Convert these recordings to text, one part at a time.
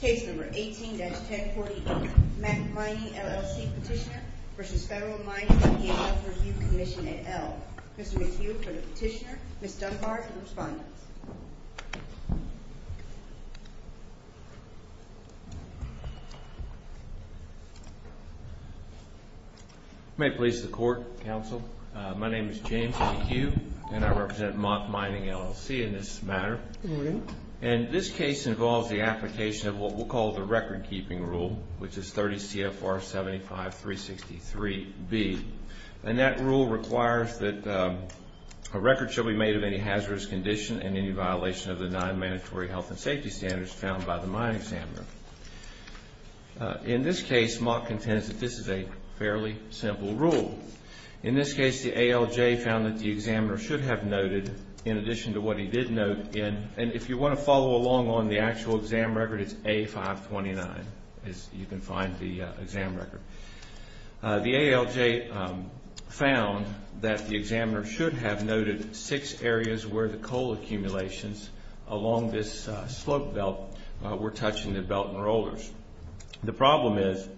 Case No. 18-1040, Mack Mining, LLC Petitioner v. Federal Mining and EMS Review Commission, et al. Mr. McHugh for the petitioner, Ms. Dunbar for the respondent. May it please the Court, Counsel. My name is James McHugh, and I represent Mack Mining, LLC in this matter. And this case involves the application of what we'll call the record-keeping rule, which is 30 CFR 75-363B. And that rule requires that a record should be made of any hazardous condition and any violation of the non-mandatory health and safety standards found by the mine examiner. In this case, Mack contends that this is a fairly simple rule. In this case, the ALJ found that the examiner should have noted, in addition to what he did note in and if you want to follow along on the actual exam record, it's A-529, as you can find the exam record. The ALJ found that the examiner should have noted six areas where the coal accumulations along this slope belt were touching the belt and rollers. The problem is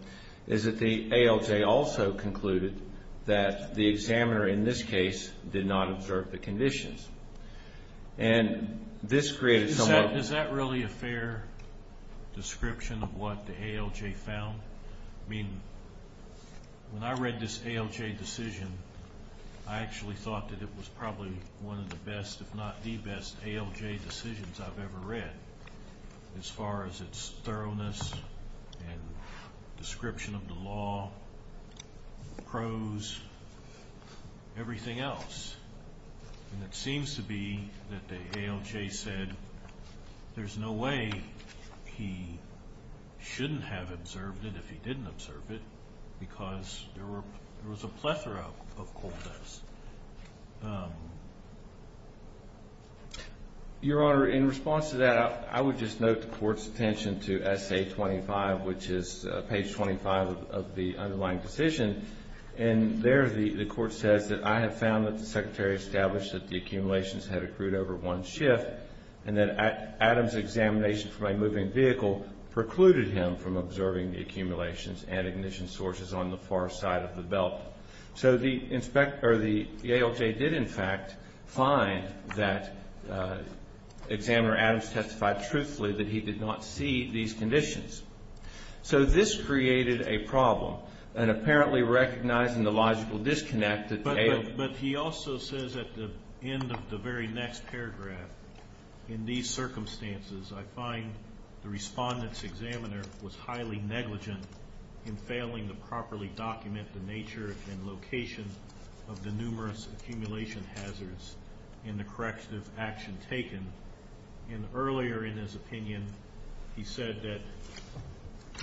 that the ALJ also concluded that the examiner, in this case, did not observe the conditions. And this created some of the... Is that really a fair description of what the ALJ found? I mean, when I read this ALJ decision, I actually thought that it was probably one of the best, if not the best, ALJ decisions I've ever read as far as its thoroughness and description of the law, pros, everything else. And it seems to be that the ALJ said there's no way he shouldn't have observed it if he didn't observe it because there was a plethora of coal pits. Your Honor, in response to that, I would just note the Court's attention to S.A. 25, which is page 25 of the underlying decision. And there the Court says that, I have found that the Secretary established that the accumulations had accrued over one shift and that Adam's examination from a moving vehicle precluded him from observing the accumulations and ignition sources on the far side of the belt. So the ALJ did, in fact, find that examiner Adams testified truthfully that he did not see these conditions. So this created a problem. And apparently recognizing the logical disconnect that the ALJ... But he also says at the end of the very next paragraph, in these circumstances, I find the respondent's examiner was highly negligent in failing to properly document the nature and location of the numerous accumulation hazards in the corrective action taken. And earlier in his opinion, he said that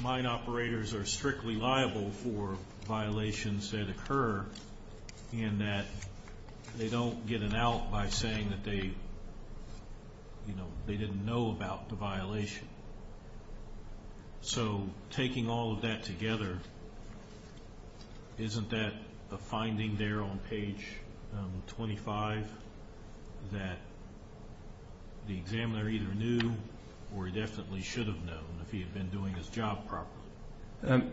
mine operators are strictly liable for violations that occur and that they don't get an out by saying that they didn't know about the violation. So taking all of that together, isn't that a finding there on page 25 that the examiner either knew or he definitely should have known if he had been doing his job properly?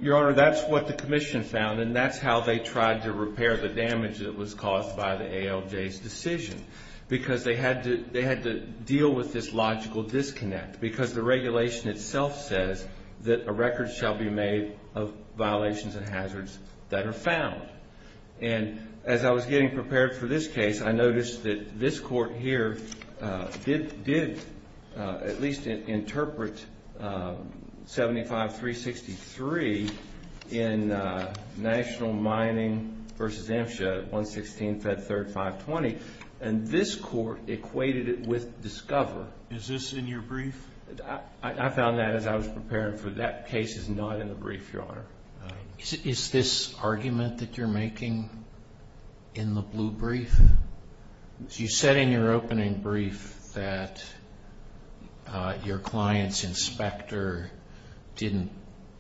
Your Honor, that's what the commission found, and that's how they tried to repair the damage that was caused by the ALJ's decision because they had to deal with this logical disconnect because the regulation itself says that a record shall be made of violations and hazards that are found. And as I was getting prepared for this case, I noticed that this court here did at least interpret 75363 in National Mining v. MSHA, 116th at 3rd, 520. And this court equated it with Discover. Is this in your brief? I found that as I was preparing for that case. It's not in the brief, Your Honor. Is this argument that you're making in the blue brief? You said in your opening brief that your client's inspector didn't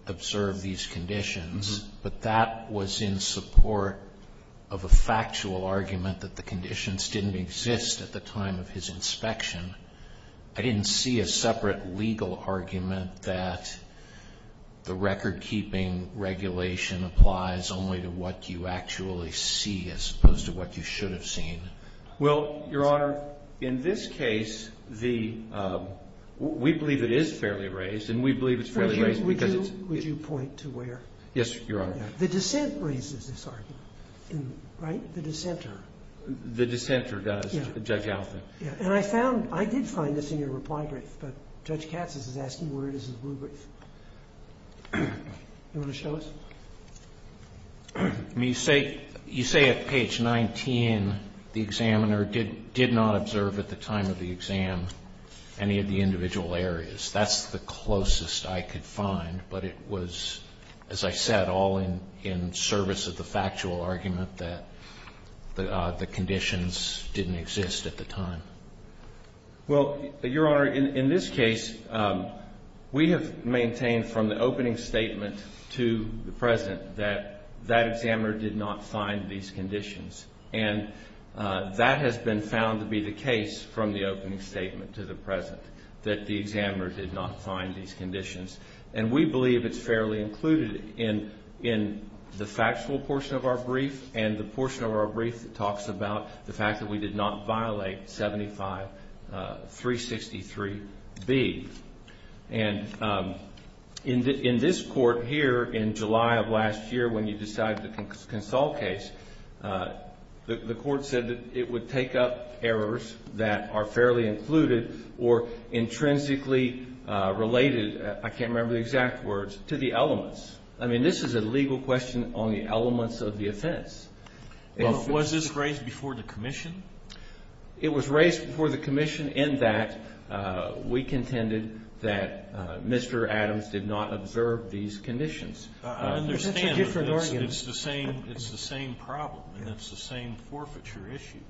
observe these conditions, but that was in support of a factual argument that the conditions didn't exist at the time of his inspection. I didn't see a separate legal argument that the recordkeeping regulation applies only to what you actually see as opposed to what you should have seen. Well, Your Honor, in this case, the we believe it is fairly raised and we believe it's fairly raised because it's Would you point to where? Yes, Your Honor. The dissent raises this argument, right? The dissenter. The dissenter does, Judge Alford. And I found, I did find this in your reply brief, but Judge Katz is asking where it is in the blue brief. You want to show us? You say at page 19 the examiner did not observe at the time of the exam any of the individual areas. That's the closest I could find, but it was, as I said, all in service of the factual argument that the conditions didn't exist at the time. Well, Your Honor, in this case, we have maintained from the opening statement to the present that that examiner did not find these conditions. And that has been found to be the case from the opening statement to the present, that the examiner did not find these conditions. And we believe it's fairly included in the factual portion of our brief and the portion of our brief that talks about the fact that we did not violate 75363B. And in this court here in July of last year when you decided to consult case, the court said that it would take up errors that are fairly included or intrinsically related, I can't remember the exact words, to the elements. I mean, this is a legal question on the elements of the offense. Was this raised before the commission? It was raised before the commission in that we contended that Mr. Adams did not observe these conditions. I understand, but it's the same problem and it's the same forfeiture issue.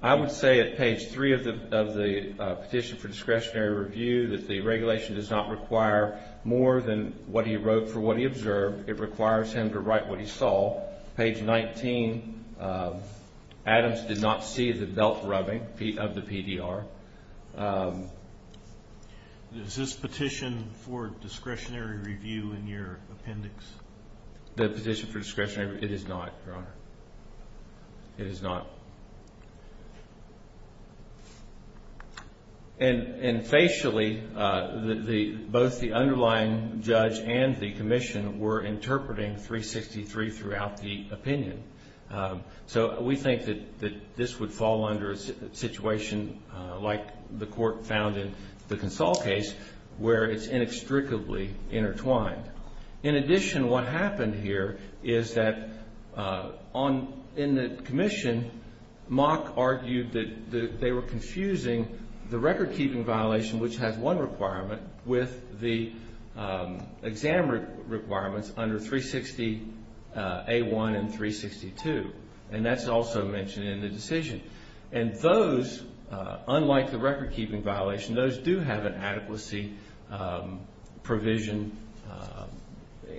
I would say at page 3 of the petition for discretionary review that the regulation does not require more than what he wrote for what he observed. It requires him to write what he saw. Page 19, Adams did not see the belt rubbing of the PDR. Is this petition for discretionary review in your appendix? The petition for discretionary review, it is not, Your Honor. It is not. And facially, both the underlying judge and the commission were interpreting 363 throughout the opinion. So we think that this would fall under a situation like the court found in the consult case where it's inextricably intertwined. In addition, what happened here is that in the commission, Mock argued that they were confusing the record-keeping violation, which has one requirement, with the exam requirements under 360A1 and 362. And that's also mentioned in the decision. And those, unlike the record-keeping violation, those do have an adequacy provision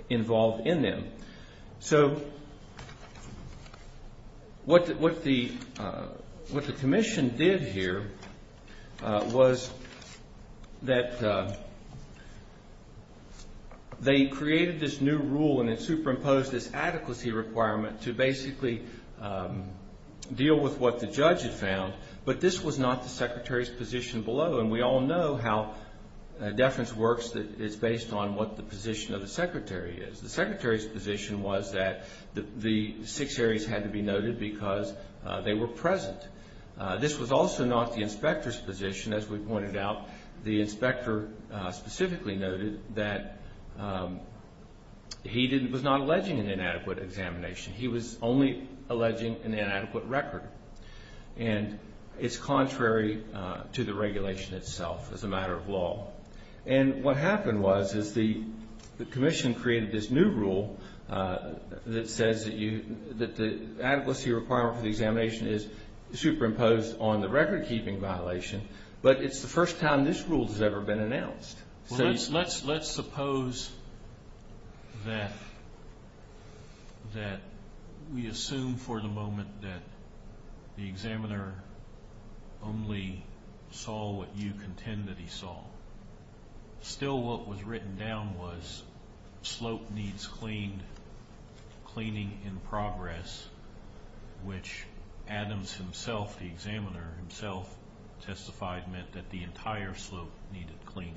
involved in them. So what the commission did here was that they created this new rule and it superimposed this adequacy requirement to basically deal with what the judge had found. But this was not the secretary's position below. And we all know how deference works that it's based on what the position of the secretary is. The secretary's position was that the six areas had to be noted because they were present. This was also not the inspector's position. As we pointed out, the inspector specifically noted that he was not alleging an inadequate examination. He was only alleging an inadequate record. And it's contrary to the regulation itself as a matter of law. And what happened was the commission created this new rule that says that the adequacy requirement for the examination is superimposed on the record-keeping violation, but it's the first time this rule has ever been announced. Let's suppose that we assume for the moment that the examiner only saw what you contend that he saw. Still what was written down was slope needs cleaning in progress, which Adams himself, the examiner himself, testified meant that the entire slope needed cleaning.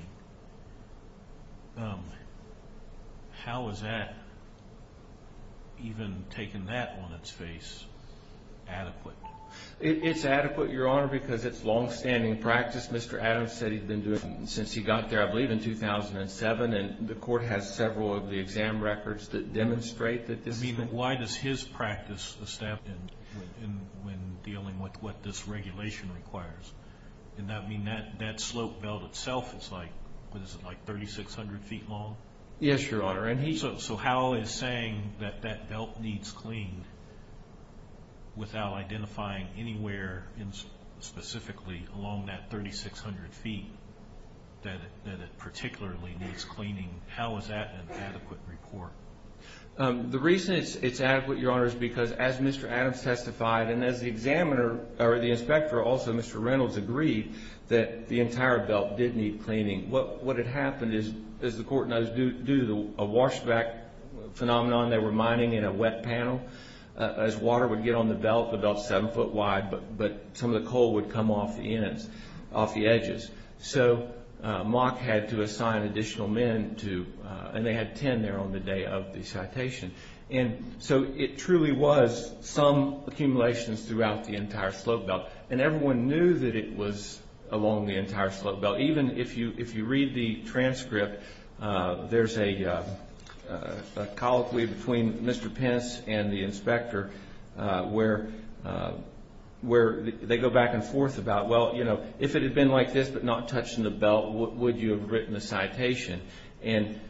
How is that, even taking that on its face, adequate? It's adequate, Your Honor, because it's long-standing practice. Mr. Adams said he'd been doing it since he got there, I believe, in 2007. And the court has several of the exam records that demonstrate that this is the case. Why does his practice establish when dealing with what this regulation requires? Does that mean that slope belt itself is like 3,600 feet long? Yes, Your Honor. So how is saying that that belt needs cleaning without identifying anywhere specifically along that 3,600 feet that it particularly needs cleaning, how is that an adequate report? The reason it's adequate, Your Honor, is because as Mr. Adams testified and as the examiner or the inspector, also Mr. Reynolds, agreed that the entire belt did need cleaning. What had happened is, as the court knows, due to a washback phenomenon, they were mining in a wet panel. As water would get on the belt, the belt's seven foot wide, but some of the coal would come off the ends, off the edges. So Mock had to assign additional men to, and they had 10 there on the day of the citation. And so it truly was some accumulations throughout the entire slope belt. And everyone knew that it was along the entire slope belt. Even if you read the transcript, there's a colloquy between Mr. Pence and the inspector where they go back and forth about, well, you know, if it had been like this but not touching the belt, would you have written the citation? And,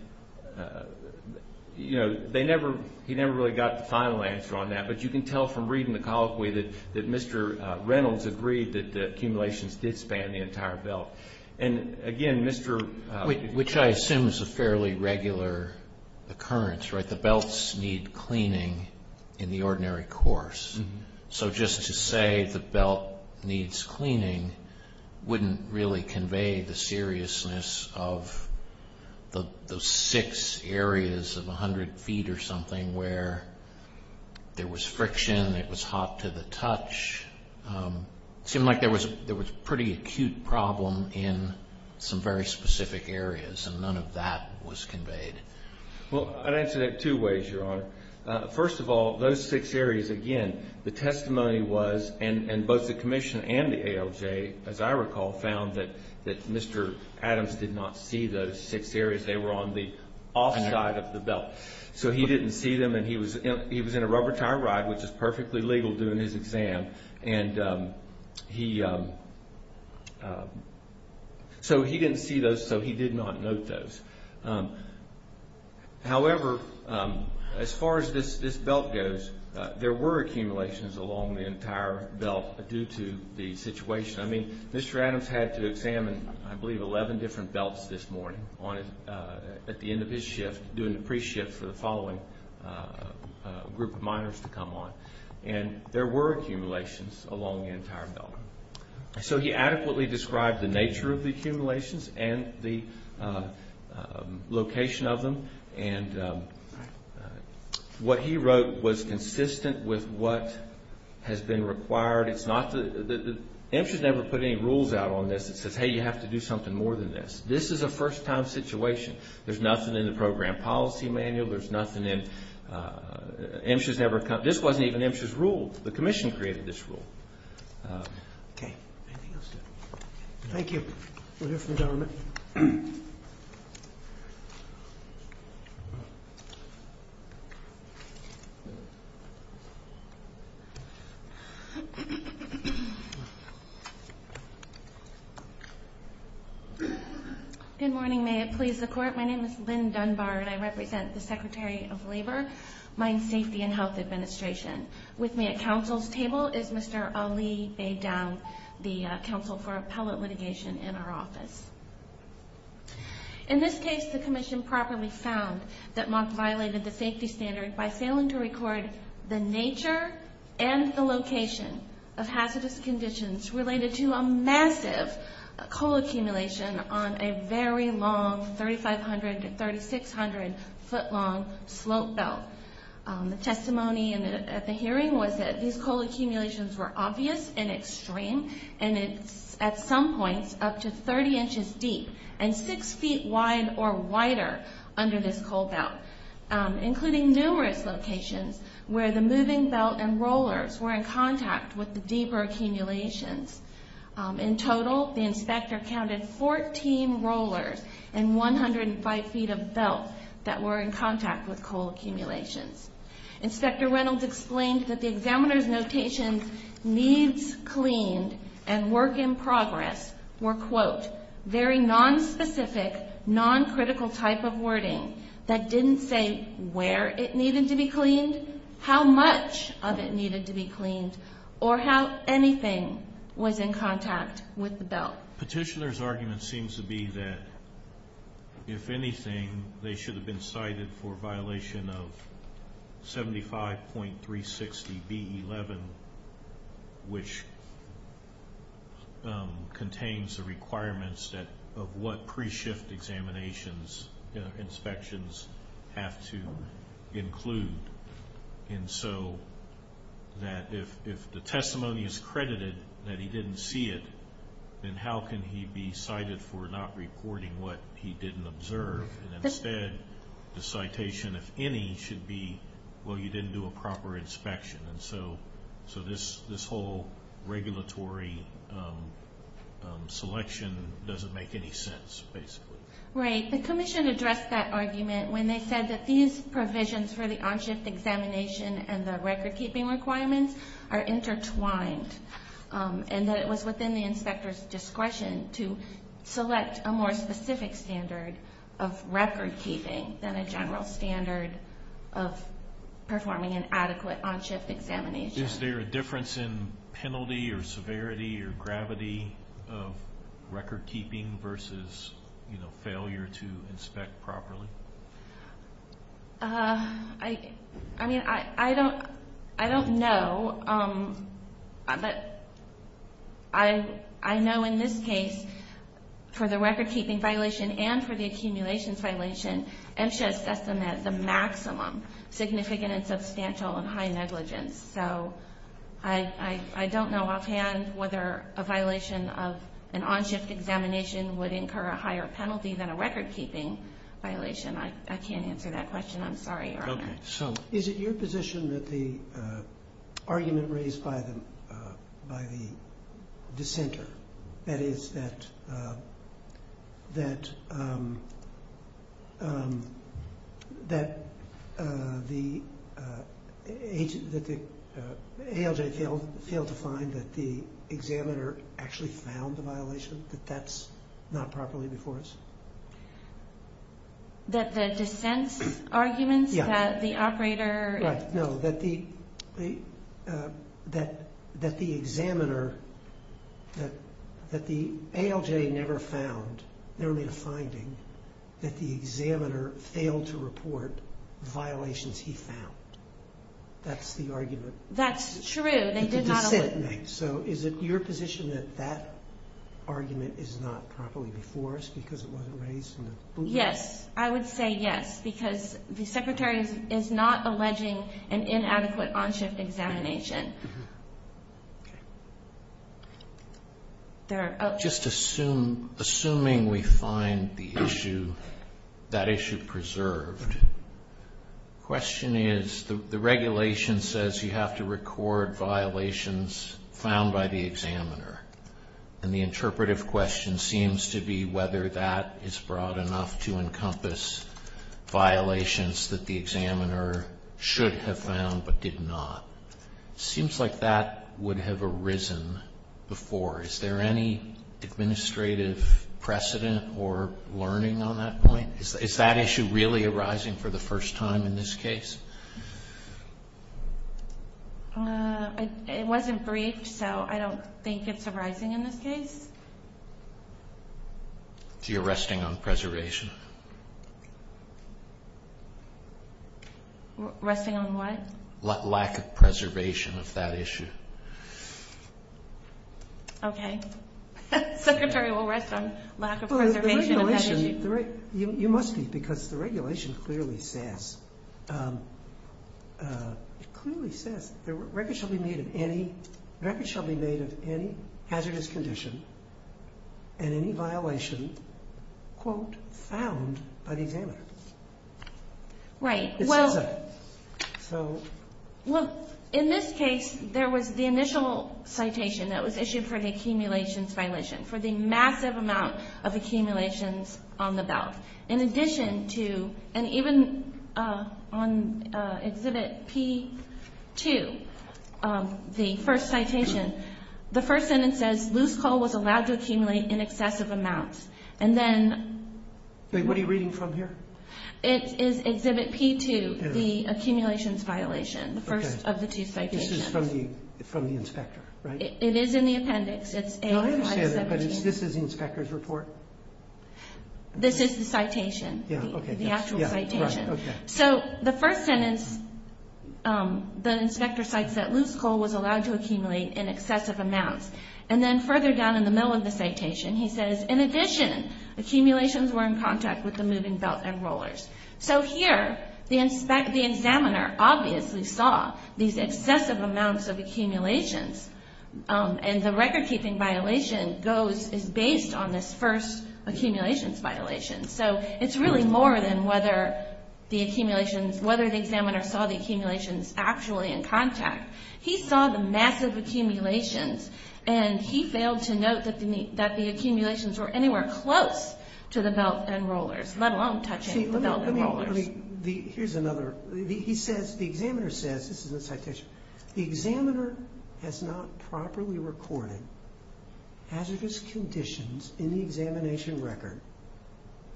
you know, they never, he never really got the final answer on that. But you can tell from reading the colloquy that Mr. Reynolds agreed that the accumulations did span the entire belt. And, again, Mr. Which I assume is a fairly regular occurrence, right? The belts need cleaning in the ordinary course. So just to say the belt needs cleaning wouldn't really convey the seriousness of the six areas of 100 feet or something where there was friction, it was hot to the touch. It seemed like there was a pretty acute problem in some very specific areas, and none of that was conveyed. Well, I'd answer that two ways, Your Honor. First of all, those six areas, again, the testimony was, and both the commission and the ALJ, as I recall, found that Mr. Adams did not see those six areas. They were on the off side of the belt. So he didn't see them, and he was in a rubber tire ride, which is perfectly legal during his exam. And he, so he didn't see those, so he did not note those. However, as far as this belt goes, there were accumulations along the entire belt due to the situation. I mean, Mr. Adams had to examine, I believe, 11 different belts this morning at the end of his shift, doing the pre-shift for the following group of minors to come on. And there were accumulations along the entire belt. So he adequately described the nature of the accumulations and the location of them. And what he wrote was consistent with what has been required. It's not the, MSHA's never put any rules out on this that says, hey, you have to do something more than this. This is a first-time situation. There's nothing in the program policy manual. There's nothing in, MSHA's never, this wasn't even MSHA's rule. The commission created this rule. Okay. Anything else? Thank you. We'll hear from the gentleman. Good morning. May it please the Court. My name is Lynn Dunbar, and I represent the Secretary of Labor, Mine Safety and Health Administration. With me at counsel's table is Mr. Ali Beydoun, the counsel for appellate litigation in our office. In this case, the commission properly found that Mock violated the safety standard by failing to record the nature and the location of hazardous conditions related to a massive coal accumulation on a very long 3,500 to 3,600-foot-long slope belt. The testimony at the hearing was that these coal accumulations were obvious and extreme, and at some points up to 30 inches deep and six feet wide or wider under this coal belt, including numerous locations where the moving belt and rollers were in contact with the deeper accumulations. In total, the inspector counted 14 rollers and 105 feet of belt that were in contact with coal accumulations. Inspector Reynolds explained that the examiner's notation, needs cleaned and work in progress, were, quote, very nonspecific, noncritical type of wording that didn't say where it needed to be cleaned, how much of it needed to be cleaned, or how anything was in contact with the belt. Petitioner's argument seems to be that, if anything, they should have been cited for a violation of 75.360B11, which contains the requirements of what pre-shift examinations inspections have to include. And so that if the testimony is credited that he didn't see it, then how can he be cited for not reporting what he didn't observe? And instead, the citation, if any, should be, well, you didn't do a proper inspection. And so this whole regulatory selection doesn't make any sense, basically. Right. The commission addressed that argument when they said that these provisions for the on-shift examination and the record-keeping requirements are intertwined, and that it was within the inspector's discretion to select a more specific standard of record-keeping than a general standard of performing an adequate on-shift examination. Is there a difference in penalty or severity or gravity of record-keeping versus, you know, failure to inspect properly? I mean, I don't know. But I know in this case, for the record-keeping violation and for the accumulations violation, MSHA assessed them as the maximum significant and substantial and high negligence. So I don't know offhand whether a violation of an on-shift examination would incur a higher penalty than a record-keeping violation. I can't answer that question. I'm sorry, Your Honor. Okay. So is it your position that the argument raised by the dissenter, that is, that the ALJ failed to find that the examiner actually found the violation, that that's not properly before us? That the dissent's arguments, that the operator... Right. No. That the examiner, that the ALJ never found, never made a finding, that the examiner failed to report violations he found. That's the argument. That's true. The dissent makes. So is it your position that that argument is not properly before us because it wasn't raised? Yes. I would say yes, because the Secretary is not alleging an inadequate on-shift examination. Just assuming we find the issue, that issue preserved, The question is, the regulation says you have to record violations found by the examiner, and the interpretive question seems to be whether that is broad enough to encompass violations that the examiner should have found but did not. It seems like that would have arisen before. Is there any administrative precedent or learning on that point? Is that issue really arising for the first time in this case? It wasn't briefed, so I don't think it's arising in this case. So you're resting on preservation? Resting on what? Lack of preservation of that issue. Okay. The Secretary will rest on lack of preservation of that issue. You must be, because the regulation clearly says records shall be made of any hazardous condition and any violation, quote, found by the examiner. Right. It says that. Well, in this case, there was the initial citation that was issued for the accumulations violation, for the massive amount of accumulations on the belt. In addition to, and even on Exhibit P2, the first citation, the first sentence says loose coal was allowed to accumulate in excessive amounts. And then What are you reading from here? It is Exhibit P2, the accumulations violation, the first of the two citations. This is from the inspector, right? It is in the appendix. No, I understand it, but this is the inspector's report? This is the citation, the actual citation. So the first sentence, the inspector cites that loose coal was allowed to accumulate in excessive amounts. And then further down in the middle of the citation, he says, In addition, accumulations were in contact with the moving belt and rollers. So here, the examiner obviously saw these excessive amounts of accumulations, and the record-keeping violation is based on this first accumulations violation. So it's really more than whether the examiner saw the accumulations actually in contact. He saw the massive accumulations, and he failed to note that the accumulations were anywhere close to the belt and rollers, let alone touching the belt and rollers. Here's another. He says, the examiner says, this is in the citation, The examiner has not properly recorded hazardous conditions in the examination record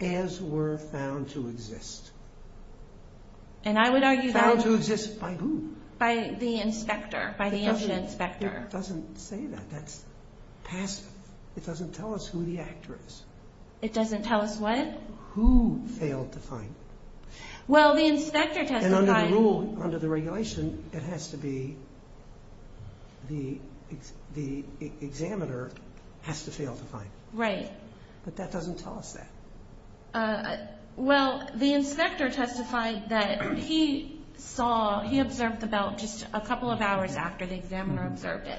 as were found to exist. And I would argue that Found to exist by who? By the inspector, by the incident inspector. It doesn't say that. That's passive. It doesn't tell us who the actor is. It doesn't tell us what? Who failed to find. Well, the inspector testified. And under the rule, under the regulation, it has to be the examiner has to fail to find. Right. But that doesn't tell us that. Well, the inspector testified that he saw, he observed the belt just a couple of hours after the examiner observed it.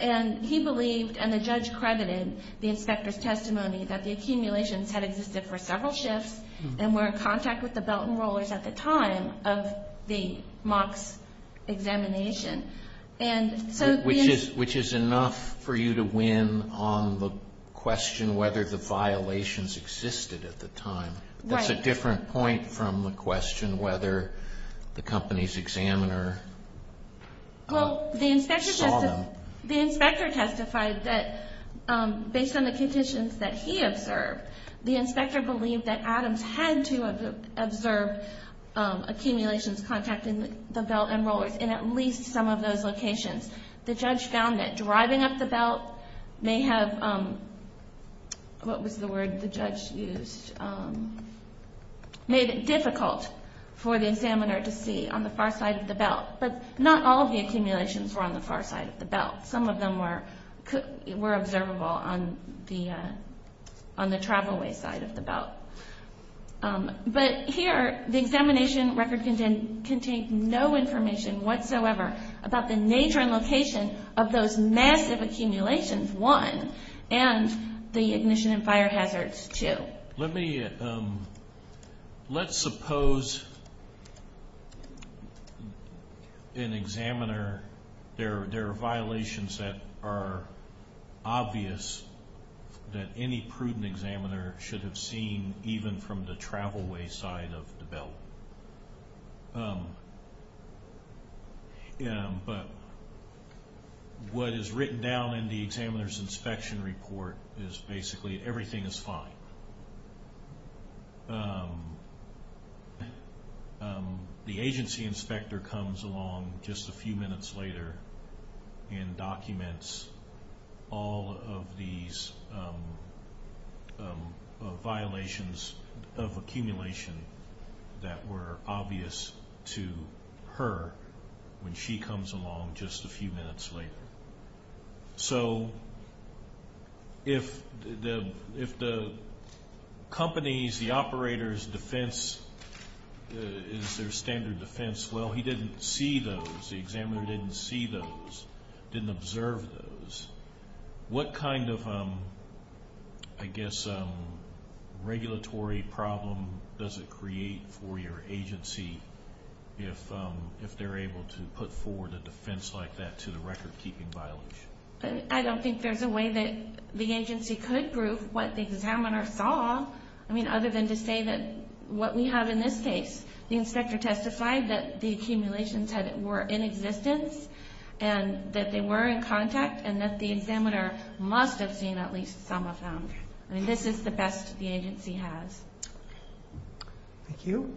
And he believed, and the judge credited the inspector's testimony, that the accumulations had existed for several shifts and were in contact with the belt and rollers at the time of the MOCS examination. Which is enough for you to win on the question whether the violations existed at the time. Right. That's a different point from the question whether the company's examiner saw them. Well, the inspector testified that based on the conditions that he observed, the inspector believed that Adams had to have observed accumulations contacting the belt and rollers in at least some of those locations. The judge found that driving up the belt may have, what was the word the judge used, made it difficult for the examiner to see on the far side of the belt. But not all of the accumulations were on the far side of the belt. Some of them were observable on the travel way side of the belt. But here, the examination record contained no information whatsoever about the nature and location of those massive accumulations, one, and the ignition and fire hazards, two. Let's suppose an examiner, there are violations that are obvious that any prudent examiner should have seen even from the travel way side of the belt. But what is written down in the examiner's inspection report is basically everything is fine. The agency inspector comes along just a few minutes later and documents all of these violations of accumulation that were obvious to her when she comes along just a few minutes later. So if the company's, the operator's defense is their standard defense, well, he didn't see those. The examiner didn't see those, didn't observe those. What kind of, I guess, regulatory problem does it create for your agency if they're able to put forward a defense like that to the record-keeping violation? I don't think there's a way that the agency could prove what the examiner saw. I mean, other than to say that what we have in this case, the inspector testified that the accumulations were in existence and that they were in contact and that the examiner must have seen at least some of them. I mean, this is the best the agency has. Thank you.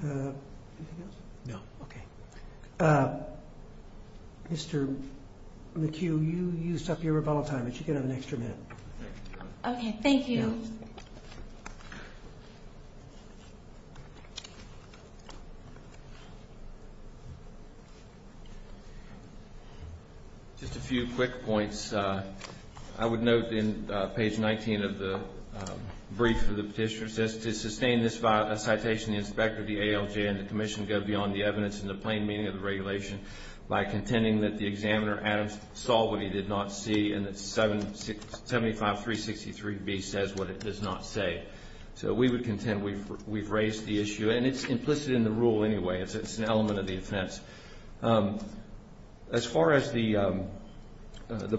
Anything else? No. Okay. Mr. McHugh, you used up your rebuttal time, but you can have an extra minute. Okay, thank you. Thank you. Just a few quick points. I would note in page 19 of the brief for the petitioner, it says, to sustain this citation, the inspector, the ALJ, and the commission go beyond the evidence and the plain meaning of the regulation by contending that the examiner, Adam, saw what he did not see and that 75363B says what it does not say. So we would contend we've raised the issue. And it's implicit in the rule anyway. It's an element of the offense. As far as the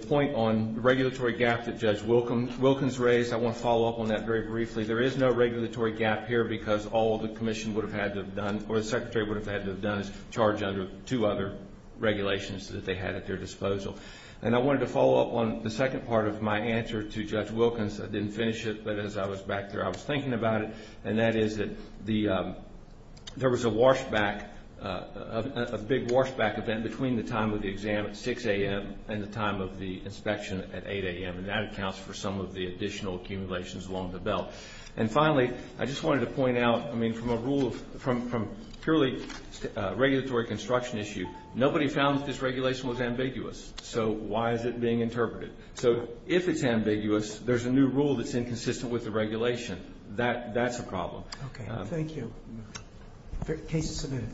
point on regulatory gap that Judge Wilkins raised, I want to follow up on that very briefly. There is no regulatory gap here because all the commission would have had to have done or the secretary would have had to have done is charge under two other regulations that they had at their disposal. And I wanted to follow up on the second part of my answer to Judge Wilkins. I didn't finish it, but as I was back there, I was thinking about it, and that is that there was a big washback event between the time of the exam at 6 a.m. and the time of the inspection at 8 a.m., and that accounts for some of the additional accumulations along the belt. And finally, I just wanted to point out, I mean, from a rule, from purely regulatory construction issue, nobody found that this regulation was ambiguous. So why is it being interpreted? So if it's ambiguous, there's a new rule that's inconsistent with the regulation. That's a problem. Okay. Thank you. Case is submitted.